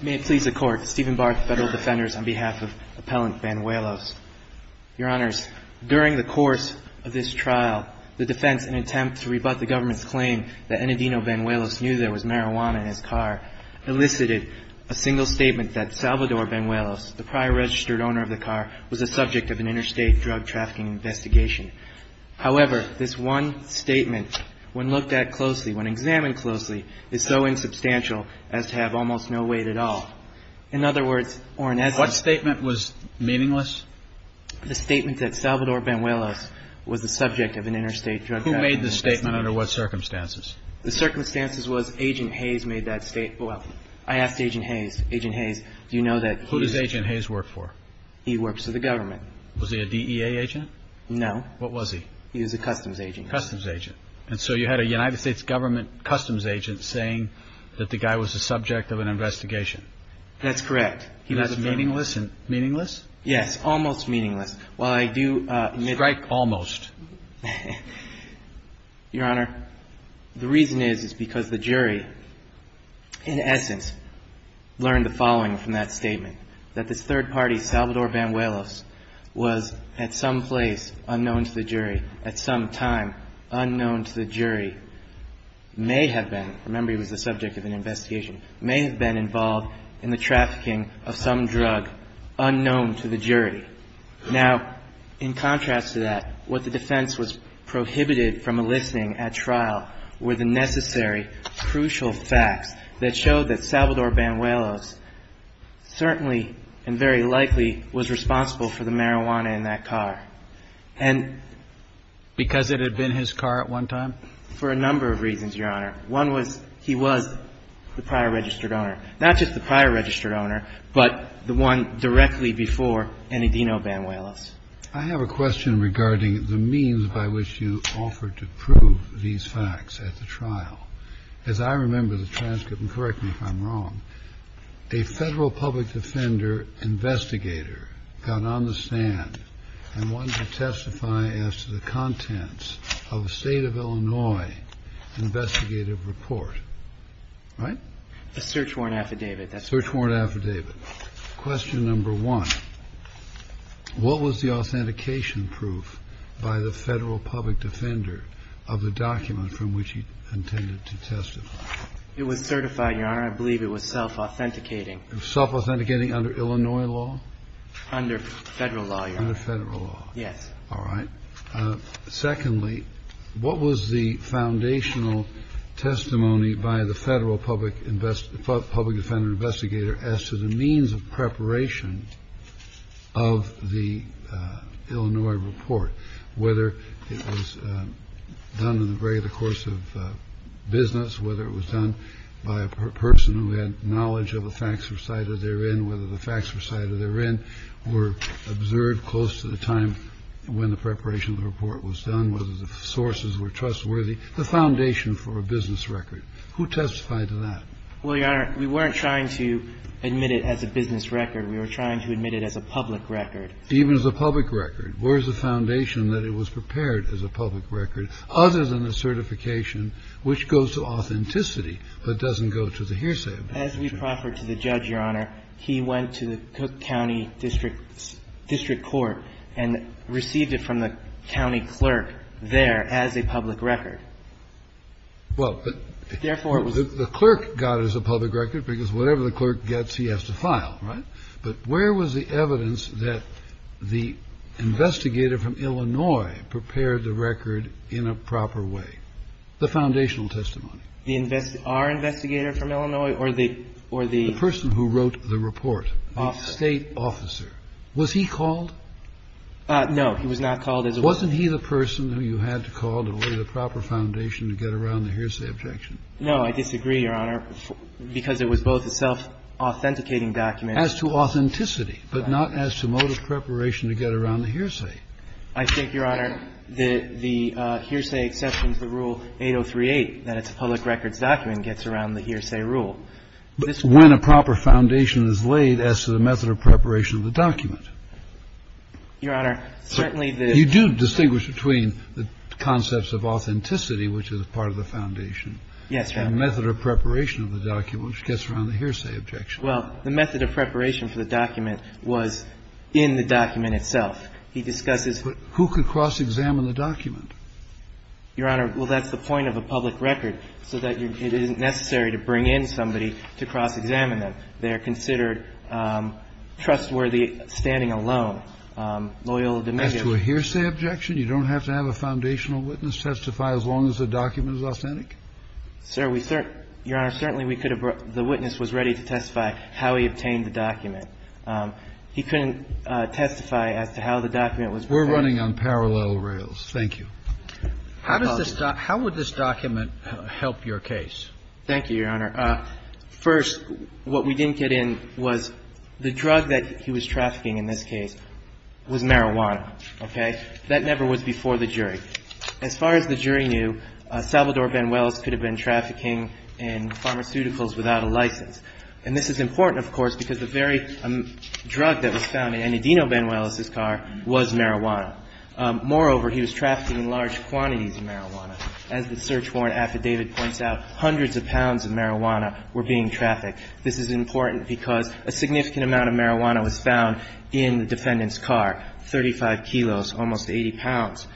May it please the Court, Stephen Barth, Federal Defenders, on behalf of Appellant Banuelos. Your Honors, during the course of this trial, the defense, in an attempt to rebut the government's claim that Enadino Banuelos knew there was marijuana in his car, elicited a single statement that Salvador Banuelos, the prior registered owner of the car, was the subject of an interstate drug trafficking investigation. However, this one statement, when looked at closely, when examined closely, is so insubstantial as to have almost no weight at all. In other words, or in essence... What statement was meaningless? The statement that Salvador Banuelos was the subject of an interstate drug trafficking investigation. Who made the statement under what circumstances? The circumstances was Agent Hayes made that statement. Well, I asked Agent Hayes, Agent Hayes, do you know that he... Who does Agent Hayes work for? He works for the government. Was he a DEA agent? No. What was he? He was a customs agent. Customs agent. And so you had a United States government customs agent saying that the guy was the subject of an investigation. That's correct. He was meaningless and... meaningless? Yes, almost meaningless. While I do... Strike almost. Your Honor, the reason is, is because the jury, in essence, learned the following from that statement. That this third party, Salvador Banuelos, was at some place unknown to the jury, at some time unknown to the jury. May have been, remember he was the subject of an investigation, may have been involved in the trafficking of some drug unknown to the jury. Now, in contrast to that, what the defense was prohibited from eliciting at trial were the necessary, crucial facts that showed that Salvador Banuelos certainly and very likely was responsible for the marijuana in that car. And... Because it had been his car at one time? For a number of reasons, Your Honor. One was, he was the prior registered owner. Not just the prior registered owner, but the one directly before Enidino Banuelos. I have a question regarding the means by which you offered to prove these facts at the trial. As I remember the transcript, and correct me if I'm wrong, a Federal Public Defender investigator got on the stand and wanted to testify as to the contents of a State of Illinois investigative report. Right? A search warrant affidavit. A search warrant affidavit. Question number one, what was the authentication proof by the Federal Public Defender of the document from which he intended to testify? It was certified, Your Honor. I believe it was self-authenticating. Self-authenticating under Illinois law? Under Federal law, Your Honor. Under Federal law. Yes. All right. Secondly, what was the foundational testimony by the Federal Public Invest Public Defender investigator as to the means of preparation of the Illinois report? Whether it was done in the regular course of business, whether it was done by a person who had knowledge of the facts recited therein, whether the facts recited therein were observed close to the time when the preparation of the report was done, whether the sources were trustworthy. The foundation for a business record. Who testified to that? Well, Your Honor, we weren't trying to admit it as a business record. We were trying to admit it as a public record. Even as a public record. Where is the foundation that it was prepared as a public record other than the certification which goes to authenticity but doesn't go to the hearsay of the judge? As we proffer to the judge, Your Honor, he went to the Cook County District Court and received it from the county clerk there as a public record. Well, the clerk got it as a public record because whatever the clerk gets, he has to file. But where was the evidence that the investigator from Illinois prepared the record in a proper way? The foundational testimony. Our investigator from Illinois or the or the person who wrote the report? State officer. Was he called? No, he was not called. Wasn't he the person who you had to call to lay the proper foundation to get around the hearsay objection? No, I disagree, Your Honor, because it was both a self-authenticating document. As to authenticity, but not as to mode of preparation to get around the hearsay. I think, Your Honor, the hearsay exception to the rule 8038, that it's a public records document, gets around the hearsay rule. But when a proper foundation is laid as to the method of preparation of the document. Your Honor, certainly the You do distinguish between the concepts of authenticity, which is part of the foundation. Yes, Your Honor. And the method of preparation of the document, which gets around the hearsay objection. Well, the method of preparation for the document was in the document itself. He discusses. But who could cross-examine the document? Your Honor, well, that's the point of a public record, so that it isn't necessary to bring in somebody to cross-examine them. They are considered trustworthy standing alone, loyal to the media. As to a hearsay objection, you don't have to have a foundational witness testify as long as the document is authentic? Sir, Your Honor, certainly we could have brought the witness was ready to testify how he obtained the document. He couldn't testify as to how the document was prepared. We're running on parallel rails. Thank you. How would this document help your case? Thank you, Your Honor. First, what we didn't get in was the drug that he was trafficking in this case was marijuana. Okay? That never was before the jury. As far as the jury knew, Salvador Banuelos could have been trafficking in pharmaceuticals without a license. And this is important, of course, because the very drug that was found in Ennadino Banuelos's car was marijuana. Moreover, he was trafficking in large quantities of marijuana. As the search warrant affidavit points out, hundreds of pounds of marijuana were being trafficked. This is important because a significant amount of marijuana was found in the defendant's car, 35 kilos, almost 80 pounds.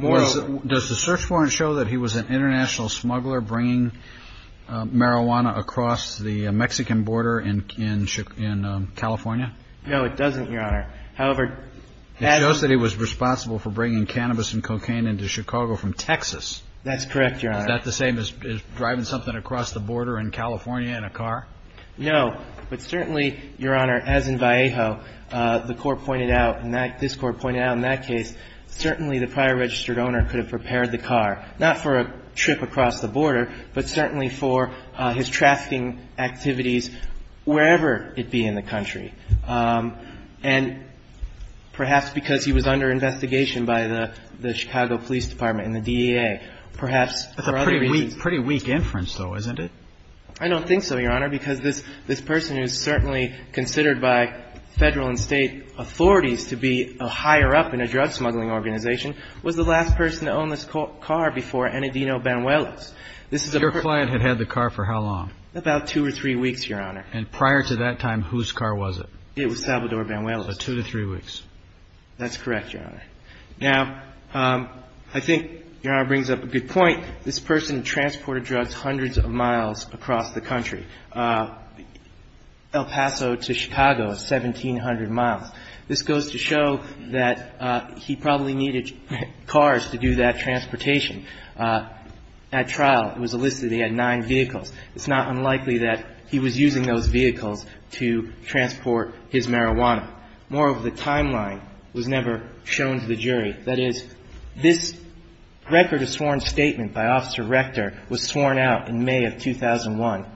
Does the search warrant show that he was an international smuggler bringing marijuana across the Mexican border in California? No, it doesn't, Your Honor. However, it shows that he was responsible for bringing cannabis and cocaine into Chicago from Texas. That's correct, Your Honor. Is that the same as driving something across the border in California in a car? No. But certainly, Your Honor, as in Vallejo, the court pointed out and this court pointed out in that case, certainly the prior registered owner could have prepared the car, not for a trip across the border, but certainly for his trafficking activities wherever it be in the country. And perhaps because he was under investigation by the Chicago Police Department and the DEA. Perhaps for other reasons. That's a pretty weak inference, though, isn't it? I don't think so, Your Honor, because this person is certainly considered by Federal and State authorities to be higher up in a drug smuggling organization, was the last person to own this car before Enedino Banuelos. Your client had had the car for how long? About two or three weeks, Your Honor. And prior to that time, whose car was it? It was Salvador Banuelos. So two to three weeks. That's correct, Your Honor. Now, I think Your Honor brings up a good point. This person transported drugs hundreds of miles across the country. El Paso to Chicago is 1,700 miles. This goes to show that he probably needed cars to do that transportation. At trial, it was listed he had nine vehicles. It's not unlikely that he was using those vehicles to transport his marijuana. Moreover, the timeline was never shown to the jury. That is, this record of sworn statement by Officer Rector was sworn out in May of 2001.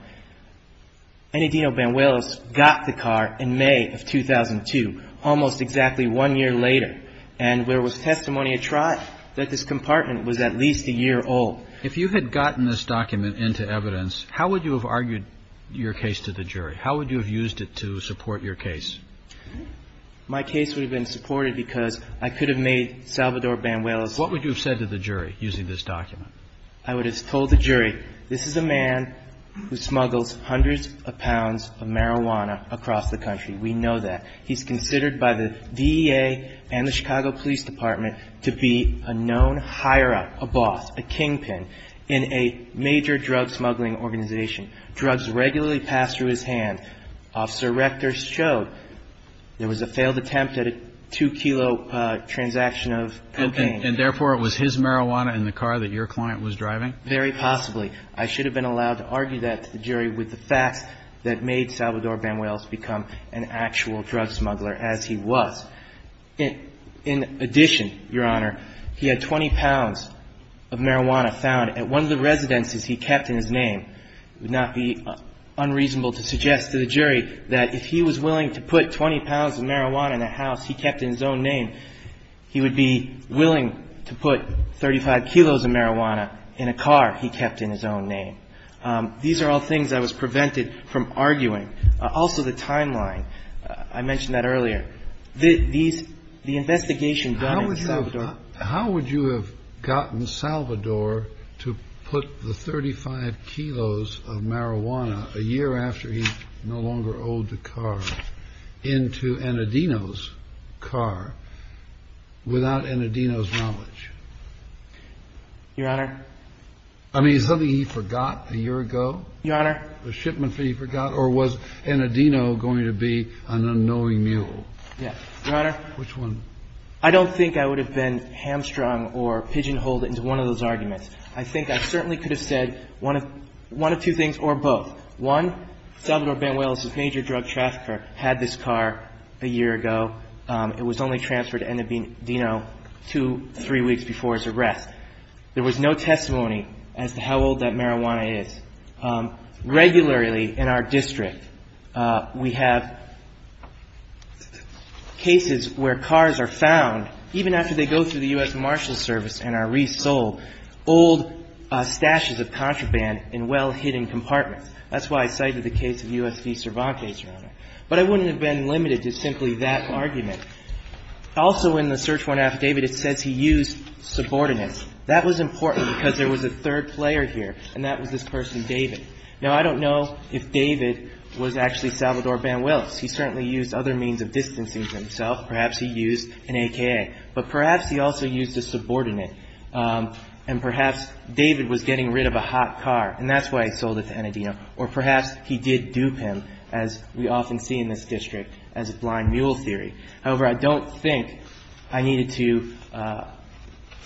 Enedino Banuelos got the car in May of 2002, almost exactly one year later, and there was testimony at trial that this compartment was at least a year old. If you had gotten this document into evidence, how would you have argued your case to the jury? How would you have used it to support your case? My case would have been supported because I could have made Salvador Banuelos. What would you have said to the jury using this document? I would have told the jury this is a man who smuggles hundreds of pounds of marijuana across the country. We know that. He's considered by the DEA and the Chicago Police Department to be a known hire-up, a boss, a kingpin in a major drug smuggling organization. Drugs regularly passed through his hand. Officer Rector showed there was a failed attempt at a two-kilo transaction of cocaine. And therefore, it was his marijuana in the car that your client was driving? Very possibly. I should have been allowed to argue that to the jury with the facts that made Salvador Banuelos become an actual drug smuggler, as he was. In addition, Your Honor, he had 20 pounds of marijuana found at one of the residences he kept in his name. It would not be unreasonable to suggest to the jury that if he was willing to put 20 pounds of marijuana in a house he kept in his own name, he would be willing to put 35 kilos of marijuana in a car he kept in his own name. These are all things I was prevented from arguing. Also, the timeline. I mentioned that earlier. The investigation done in Salvador. How would you have gotten Salvador to put the 35 kilos of marijuana a year after he no longer owed the car into an Adino's car without an Adino's knowledge? Your Honor. I mean, is something he forgot a year ago? Your Honor. The shipment he forgot. Or was an Adino going to be an unknowing mule? Yes. Your Honor. Which one? I don't think I would have been hamstrung or pigeonholed into one of those arguments. I think I certainly could have said one of two things or both. One, Salvador Benuel is a major drug trafficker, had this car a year ago. It was only transferred to Adino two, three weeks before his arrest. There was no testimony as to how old that marijuana is. Regularly in our district, we have cases where cars are found even after they go through the U.S. Marshal Service and are resold, old stashes of contraband in well-hidden compartments. That's why I cited the case of U.S. v. Cervantes, Your Honor. But I wouldn't have been limited to simply that argument. Also, in the search warrant affidavit, it says he used subordinates. That was important because there was a third player here, and that was this person, David. Now, I don't know if David was actually Salvador Benuel. He certainly used other means of distancing himself. Perhaps he used an AKA. But perhaps he also used a subordinate. And perhaps David was getting rid of a hot car, and that's why he sold it to Adino. Or perhaps he did dupe him, as we often see in this district, as a blind mule theory. However, I don't think I needed to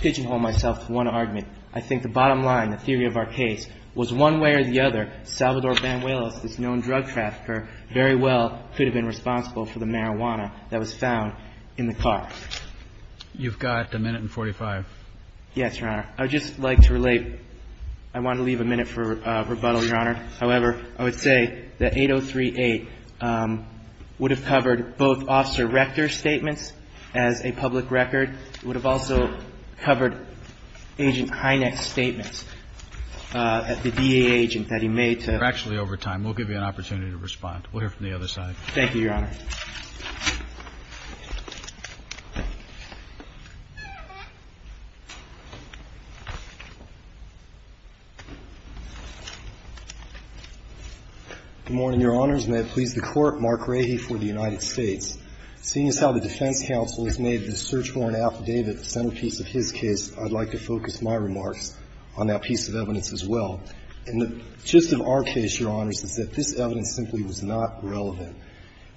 pigeonhole myself to one argument. I think the bottom line, the theory of our case, was one way or the other, Salvador Benuel, this known drug trafficker, very well could have been responsible for the marijuana that was found in the car. You've got a minute and 45. Yes, Your Honor. I would just like to relate. I want to leave a minute for rebuttal, Your Honor. Your Honor, however, I would say that 803.8 would have covered both Officer Rector's statements as a public record. It would have also covered Agent Hynek's statements at the DA agent that he made to... Actually, over time. We'll give you an opportunity to respond. We'll hear from the other side. Thank you, Your Honor. Good morning, Your Honors. May it please the Court. Mark Rahe for the United States. Seeing as how the defense counsel has made the search warrant affidavit the centerpiece of his case, I'd like to focus my remarks on that piece of evidence as well. And the gist of our case, Your Honors, is that this evidence simply was not relevant.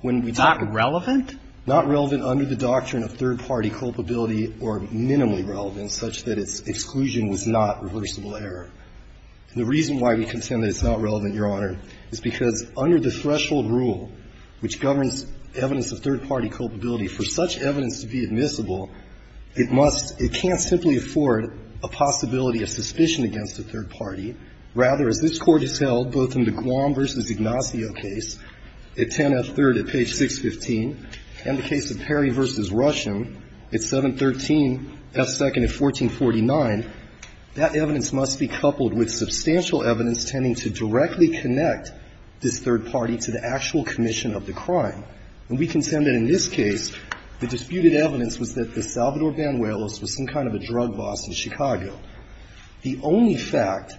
When we talk about... Not relevant? Not relevant under the doctrine of third-party culpability or minimally relevant such that its exclusion was not reversible error. And the reason why we contend that it's not relevant, Your Honor, is because under the threshold rule, which governs evidence of third-party culpability, for such evidence to be admissible, it must... It can't simply afford a possibility of suspicion against a third party. Rather, as this Court has held, both in the Guam v. Ignacio case, at 10F3rd at page 615, and the case of Perry v. Rusham at 713F2nd at 1449, that evidence must be coupled with substantial evidence tending to directly connect this third party to the actual commission of the crime. And we contend that in this case, the disputed evidence was that the Salvador Banuelos was some kind of a drug boss in Chicago. The only fact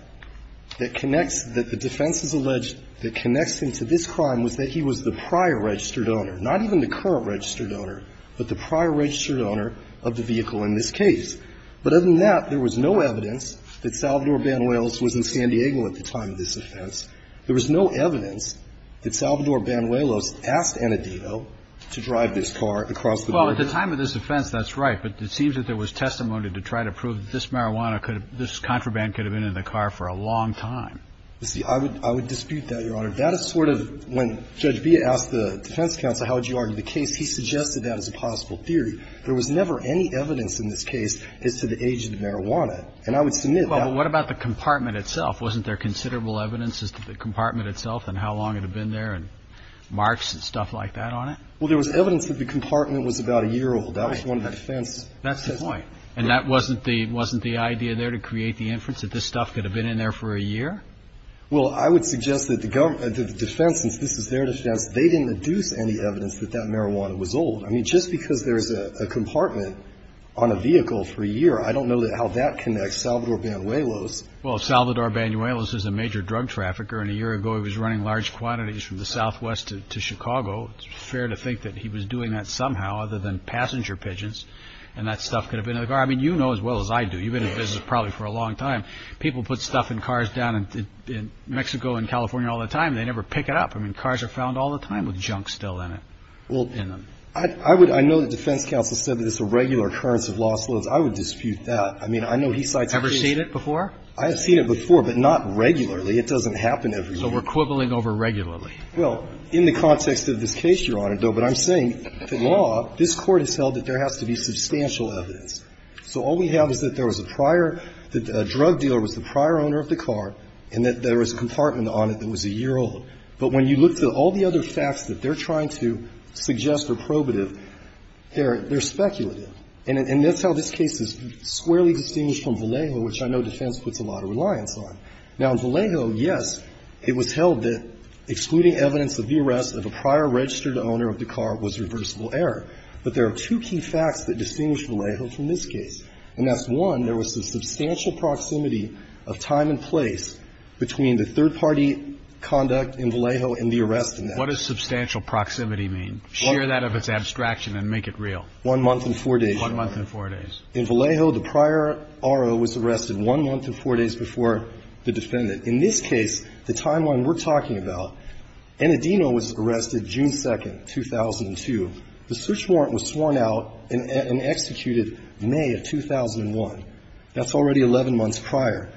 that connects, that the defense has alleged that connects him to this registered owner, but the prior registered owner of the vehicle in this case. But other than that, there was no evidence that Salvador Banuelos was in San Diego at the time of this offense. There was no evidence that Salvador Banuelos asked Annadino to drive this car across the border. Well, at the time of this offense, that's right. But it seems that there was testimony to try to prove that this marijuana could have been, this contraband could have been in the car for a long time. You see, I would dispute that, Your Honor. That is sort of, when Judge Villa asked the defense counsel, how would you argue the case, he suggested that as a possible theory. There was never any evidence in this case as to the age of the marijuana. And I would submit that. Well, but what about the compartment itself? Wasn't there considerable evidence as to the compartment itself and how long it had been there and marks and stuff like that on it? Well, there was evidence that the compartment was about a year old. That was one of the defense. That's the point. And that wasn't the idea there to create the inference that this stuff could have been in there for a year? Well, I would suggest that the defense, since this is their defense, they didn't deduce any evidence that that marijuana was old. I mean, just because there's a compartment on a vehicle for a year, I don't know how that connects Salvador Banuelos. Well, Salvador Banuelos is a major drug trafficker. And a year ago, he was running large quantities from the southwest to Chicago. It's fair to think that he was doing that somehow other than passenger pigeons and that stuff could have been in the car. I mean, you know as well as I do. You've been in the business probably for a long time. People put stuff in cars down in Mexico and California all the time. They never pick it up. I mean, cars are found all the time with junk still in them. Well, I would ñ I know the defense counsel said that it's a regular occurrence of lost loads. I would dispute that. I mean, I know he cites ñ Ever seen it before? I have seen it before, but not regularly. It doesn't happen every year. So we're quibbling over regularly. Well, in the context of this case, Your Honor, though, but I'm saying the law, this Court has held that there has to be substantial evidence. So all we have is that there was a prior ñ that a drug dealer was the prior owner of the car and that there was a compartment on it that was a year old. But when you look at all the other facts that they're trying to suggest are probative, they're speculative. And that's how this case is squarely distinguished from Vallejo, which I know defense puts a lot of reliance on. Now, in Vallejo, yes, it was held that excluding evidence of the arrest of a prior registered owner of the car was reversible error. But there are two key facts that distinguish Vallejo from this case, and that's one, there was a substantial proximity of time and place between the third-party conduct in Vallejo and the arrest in that. What does substantial proximity mean? Share that if it's abstraction and make it real. One month and four days. One month and four days. In Vallejo, the prior RO was arrested one month and four days before the defendant. In this case, the timeline we're talking about, Enadino was arrested June 2nd, 2002. The search warrant was sworn out and executed May of 2001. That's already 11 months prior.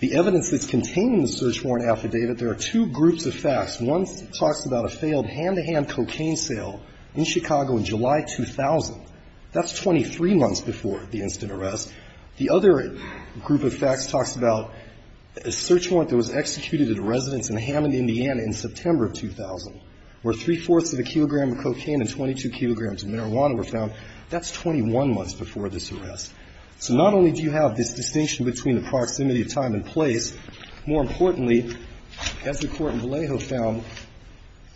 The evidence that's contained in the search warrant affidavit, there are two groups of facts. One talks about a failed hand-to-hand cocaine sale in Chicago in July 2000. That's 23 months before the instant arrest. The other group of facts talks about a search warrant that was executed at a residence in Hammond, Indiana in September of 2000, where three-fourths of a kilogram of cocaine and 22 kilograms of marijuana were found. That's 21 months before this arrest. So not only do you have this distinction between the proximity of time and place, more importantly, as the Court in Vallejo found,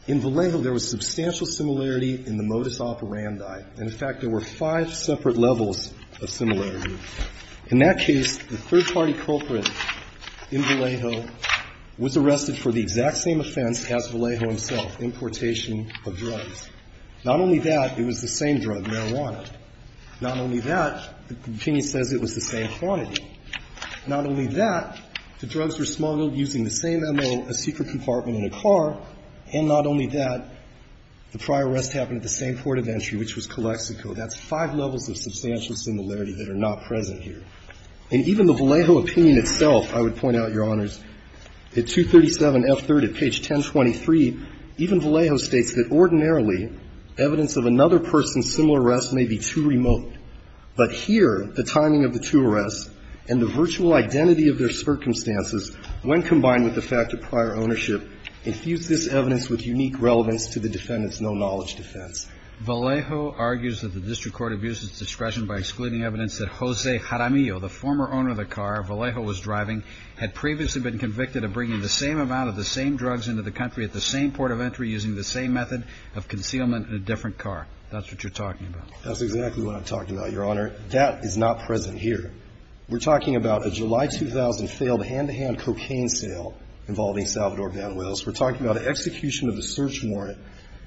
in Vallejo there was substantial similarity in the modus operandi. In fact, there were five separate levels of similarity. In that case, the third-party culprit in Vallejo was arrested for the exact same offense as Vallejo himself, importation of drugs. Not only that, it was the same drug, marijuana. Not only that, the opinion says it was the same quantity. Not only that, the drugs were smuggled using the same M.O., a secret compartment in a car, and not only that, the prior arrest happened at the same port of entry, which was Calexico. That's five levels of substantial similarity that are not present here. And even the Vallejo opinion itself, I would point out, Your Honors, at 237F3rd at page 1023, even Vallejo states that ordinarily, evidence of another person's similar arrest may be too remote. But here, the timing of the two arrests and the virtual identity of their circumstances, when combined with the fact of prior ownership, infuse this evidence with unique relevance to the defendant's no-knowledge defense. Vallejo argues that the district court abused its discretion by excluding evidence that Jose Jaramillo, the former owner of the car Vallejo was driving, had previously been convicted of bringing the same amount of the same drugs into the country at the same port of entry using the same method of concealment in a different car. That's what you're talking about. That's exactly what I'm talking about, Your Honor. That is not present here. We're talking about a July 2000 failed hand-to-hand cocaine sale involving Salvador Van Wels. We're talking about an execution of a search warrant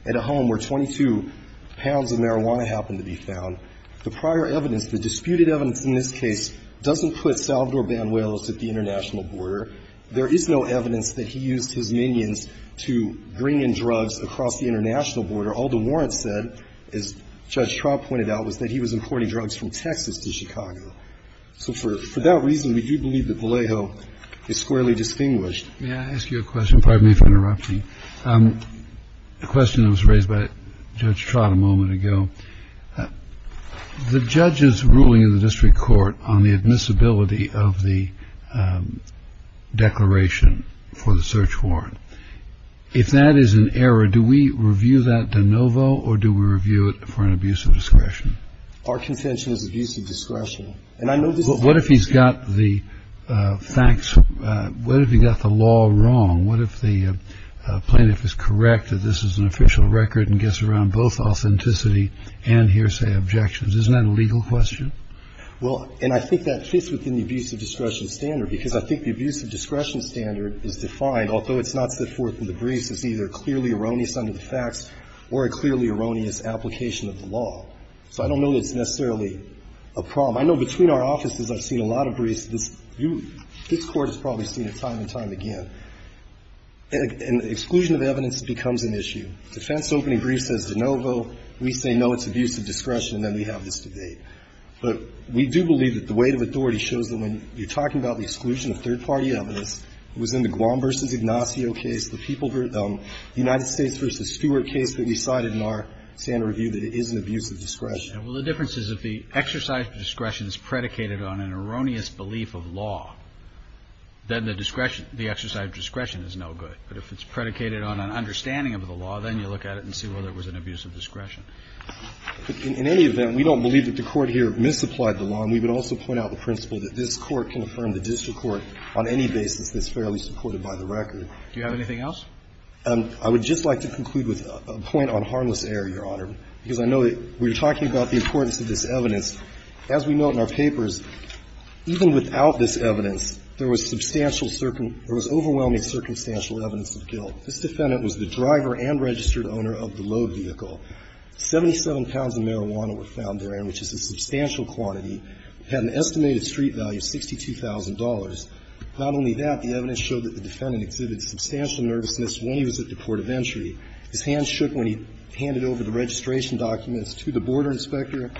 at a home where 22 pounds of marijuana happened to be found. The prior evidence, the disputed evidence in this case, doesn't put Salvador Van Wels at the international border. There is no evidence that he used his minions to bring in drugs across the international border. All the warrants said, as Judge Traub pointed out, was that he was importing drugs from Texas to Chicago. So for that reason, we do believe that Vallejo is squarely distinguished. May I ask you a question? Pardon me for interrupting. A question that was raised by Judge Traub a moment ago. The judge's ruling in the district court on the admissibility of the declaration for the search warrant, if that is an error, do we review that de novo or do we review it for an abuse of discretion? Our convention is abuse of discretion. What if he's got the facts, what if he got the law wrong? What if the plaintiff is correct that this is an official record and gets around both authenticity and hearsay objections? Isn't that a legal question? Well, and I think that fits within the abuse of discretion standard because I think the abuse of discretion standard is defined, although it's not set forth in the briefs, as either clearly erroneous under the facts or a clearly erroneous application of the law. So I don't know that it's necessarily a problem. I know between our offices I've seen a lot of briefs. This Court has probably seen it time and time again. And exclusion of evidence becomes an issue. Defense opening brief says de novo. We say, no, it's abuse of discretion, and then we have this debate. But we do believe that the weight of authority shows that when you're talking about the exclusion of third-party evidence, it was in the Guam v. Ignacio case, the people v. the United States v. Stewart case that we cited in our standard review that it is an abuse of discretion. Well, the difference is if the exercise of discretion is predicated on an erroneous belief of law, then the discretion, the exercise of discretion is no good. But if it's predicated on an understanding of the law, then you look at it and see whether it was an abuse of discretion. In any event, we don't believe that the Court here misapplied the law. And we would also point out the principle that this Court can affirm the district court on any basis that's fairly supported by the record. Do you have anything else? I would just like to conclude with a point on harmless error, Your Honor, because I know that we were talking about the importance of this evidence. As we note in our papers, even without this evidence, there was substantial circumstantial or there was overwhelming circumstantial evidence of guilt. This defendant was the driver and registered owner of the load vehicle. Seventy-seven pounds of marijuana were found therein, which is a substantial quantity. It had an estimated street value of $62,000. Not only that, the evidence showed that the defendant exhibited substantial nervousness when he was at the port of entry. His hands shook when he handed over the registration documents to the border inspector.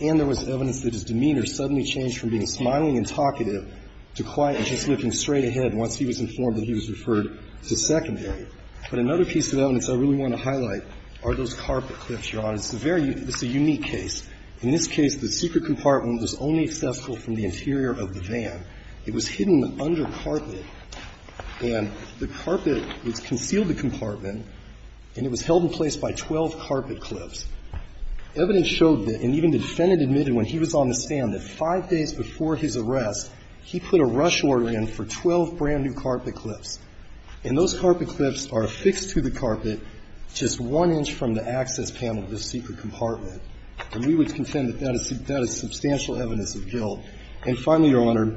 And there was evidence that his demeanor suddenly changed from being smiling and talkative to quiet and just looking straight ahead once he was informed that he was referred to secondary. But another piece of evidence I really want to highlight are those carpet clips, Your Honor. It's a very unique case. In this case, the secret compartment was only accessible from the interior of the van. It was hidden under carpet. And the carpet was concealed in the compartment, and it was held in place by 12 carpet clips. Evidence showed that, and even the defendant admitted when he was on the stand, that five days before his arrest, he put a rush order in for 12 brand-new carpet clips. And those carpet clips are affixed to the carpet just one inch from the access panel of the secret compartment. And we would contend that that is substantial evidence of guilt. And finally, Your Honor,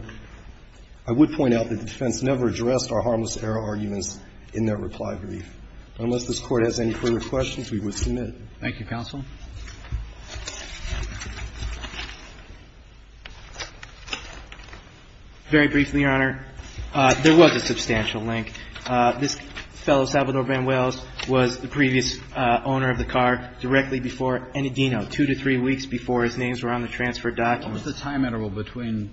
I would point out that the defense never addressed our harmless error arguments in their reply brief. Unless this Court has any further questions, we would submit. Thank you, Counsel. Very briefly, Your Honor, there was a substantial link. This fellow, Salvador Van Wells, was the previous owner of the car directly before Enadino, two to three weeks before his names were on the transfer documents. What was the time interval between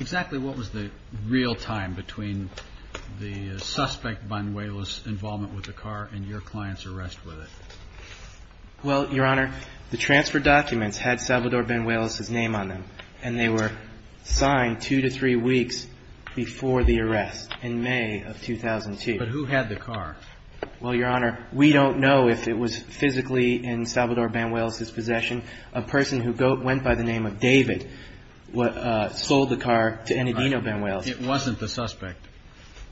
exactly what was the real time between the suspect Van Wells' involvement with the car and your client's arrest with it? Well, Your Honor, the transfer documents had Salvador Van Wells' name on them, and they were signed two to three weeks before the arrest in May of 2002. But who had the car? Well, Your Honor, we don't know if it was physically in Salvador Van Wells' possession. A person who went by the name of David sold the car to Enadino Van Wells. It wasn't the suspect,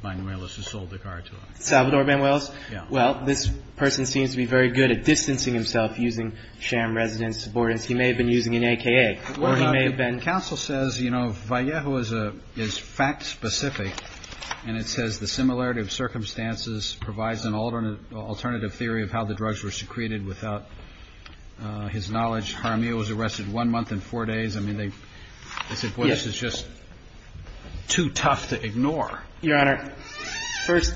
Van Wells, who sold the car to him. Salvador Van Wells? Yes. Well, this person seems to be very good at distancing himself using sham residence subordinates. He may have been using an AKA, or he may have been. Counsel says, you know, Vallejo is fact-specific, and it says the similarity of circumstances provides an alternative theory of how the drugs were secreted without his knowledge. Jaramillo was arrested one month and four days. I mean, they said, boy, this is just too tough to ignore. Your Honor, first,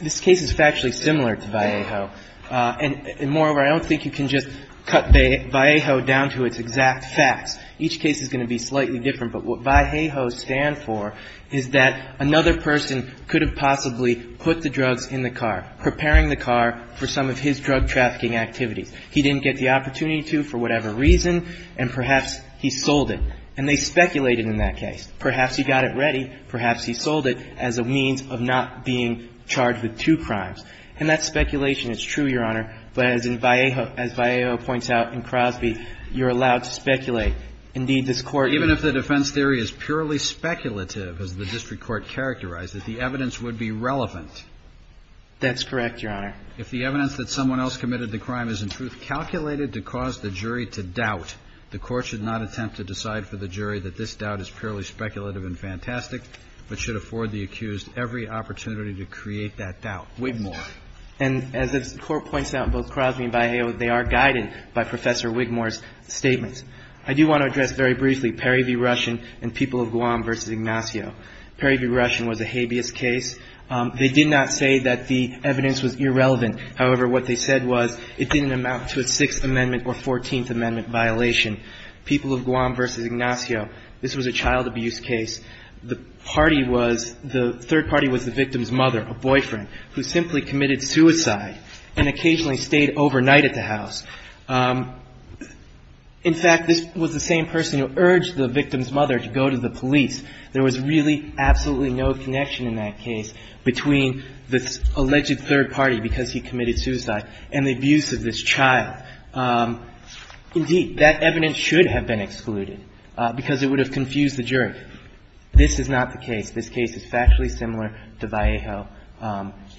this case is factually similar to Vallejo. And moreover, I don't think you can just cut Vallejo down to its exact facts. Each case is going to be slightly different. But what Vallejo stands for is that another person could have possibly put the drugs in the car, preparing the car for some of his drug-trafficking activities. He didn't get the opportunity to for whatever reason, and perhaps he sold it. And they speculated in that case. Perhaps he got it ready. Perhaps he sold it as a means of not being charged with two crimes. And that speculation is true, Your Honor. But as in Vallejo, as Vallejo points out in Crosby, you're allowed to speculate. Indeed, this Court ---- Even if the defense theory is purely speculative, as the district court characterized it, the evidence would be relevant. That's correct, Your Honor. If the evidence that someone else committed the crime is, in truth, calculated to cause the jury to doubt, the Court should not attempt to decide for the jury that this doubt is purely speculative and fantastic, but should afford the accused every opportunity to create that doubt. Wigmore. And as the Court points out in both Crosby and Vallejo, they are guided by Professor Wigmore's statements. I do want to address very briefly Perry v. Russian and People of Guam v. Ignacio. Perry v. Russian was a habeas case. They did not say that the evidence was irrelevant. However, what they said was it didn't amount to a Sixth Amendment or Fourteenth Amendment violation. People of Guam v. Ignacio, this was a child abuse case. The party was ---- the third party was the victim's mother, a boyfriend, who simply committed suicide and occasionally stayed overnight at the house. In fact, this was the same person who urged the victim's mother to go to the police. There was really absolutely no connection in that case between the alleged third party, because he committed suicide, and the abuse of this child. Indeed, that evidence should have been excluded because it would have confused the jury. This is not the case. This case is factually similar to Vallejo.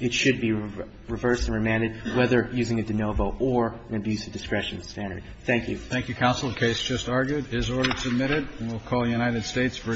It should be reversed and remanded, whether using a de novo or an abuse of discretion standard. Thank you. Thank you. Thank you, Counsel. The case just argued is ordered and submitted. And we'll call United States v. Marmolejo-Rios.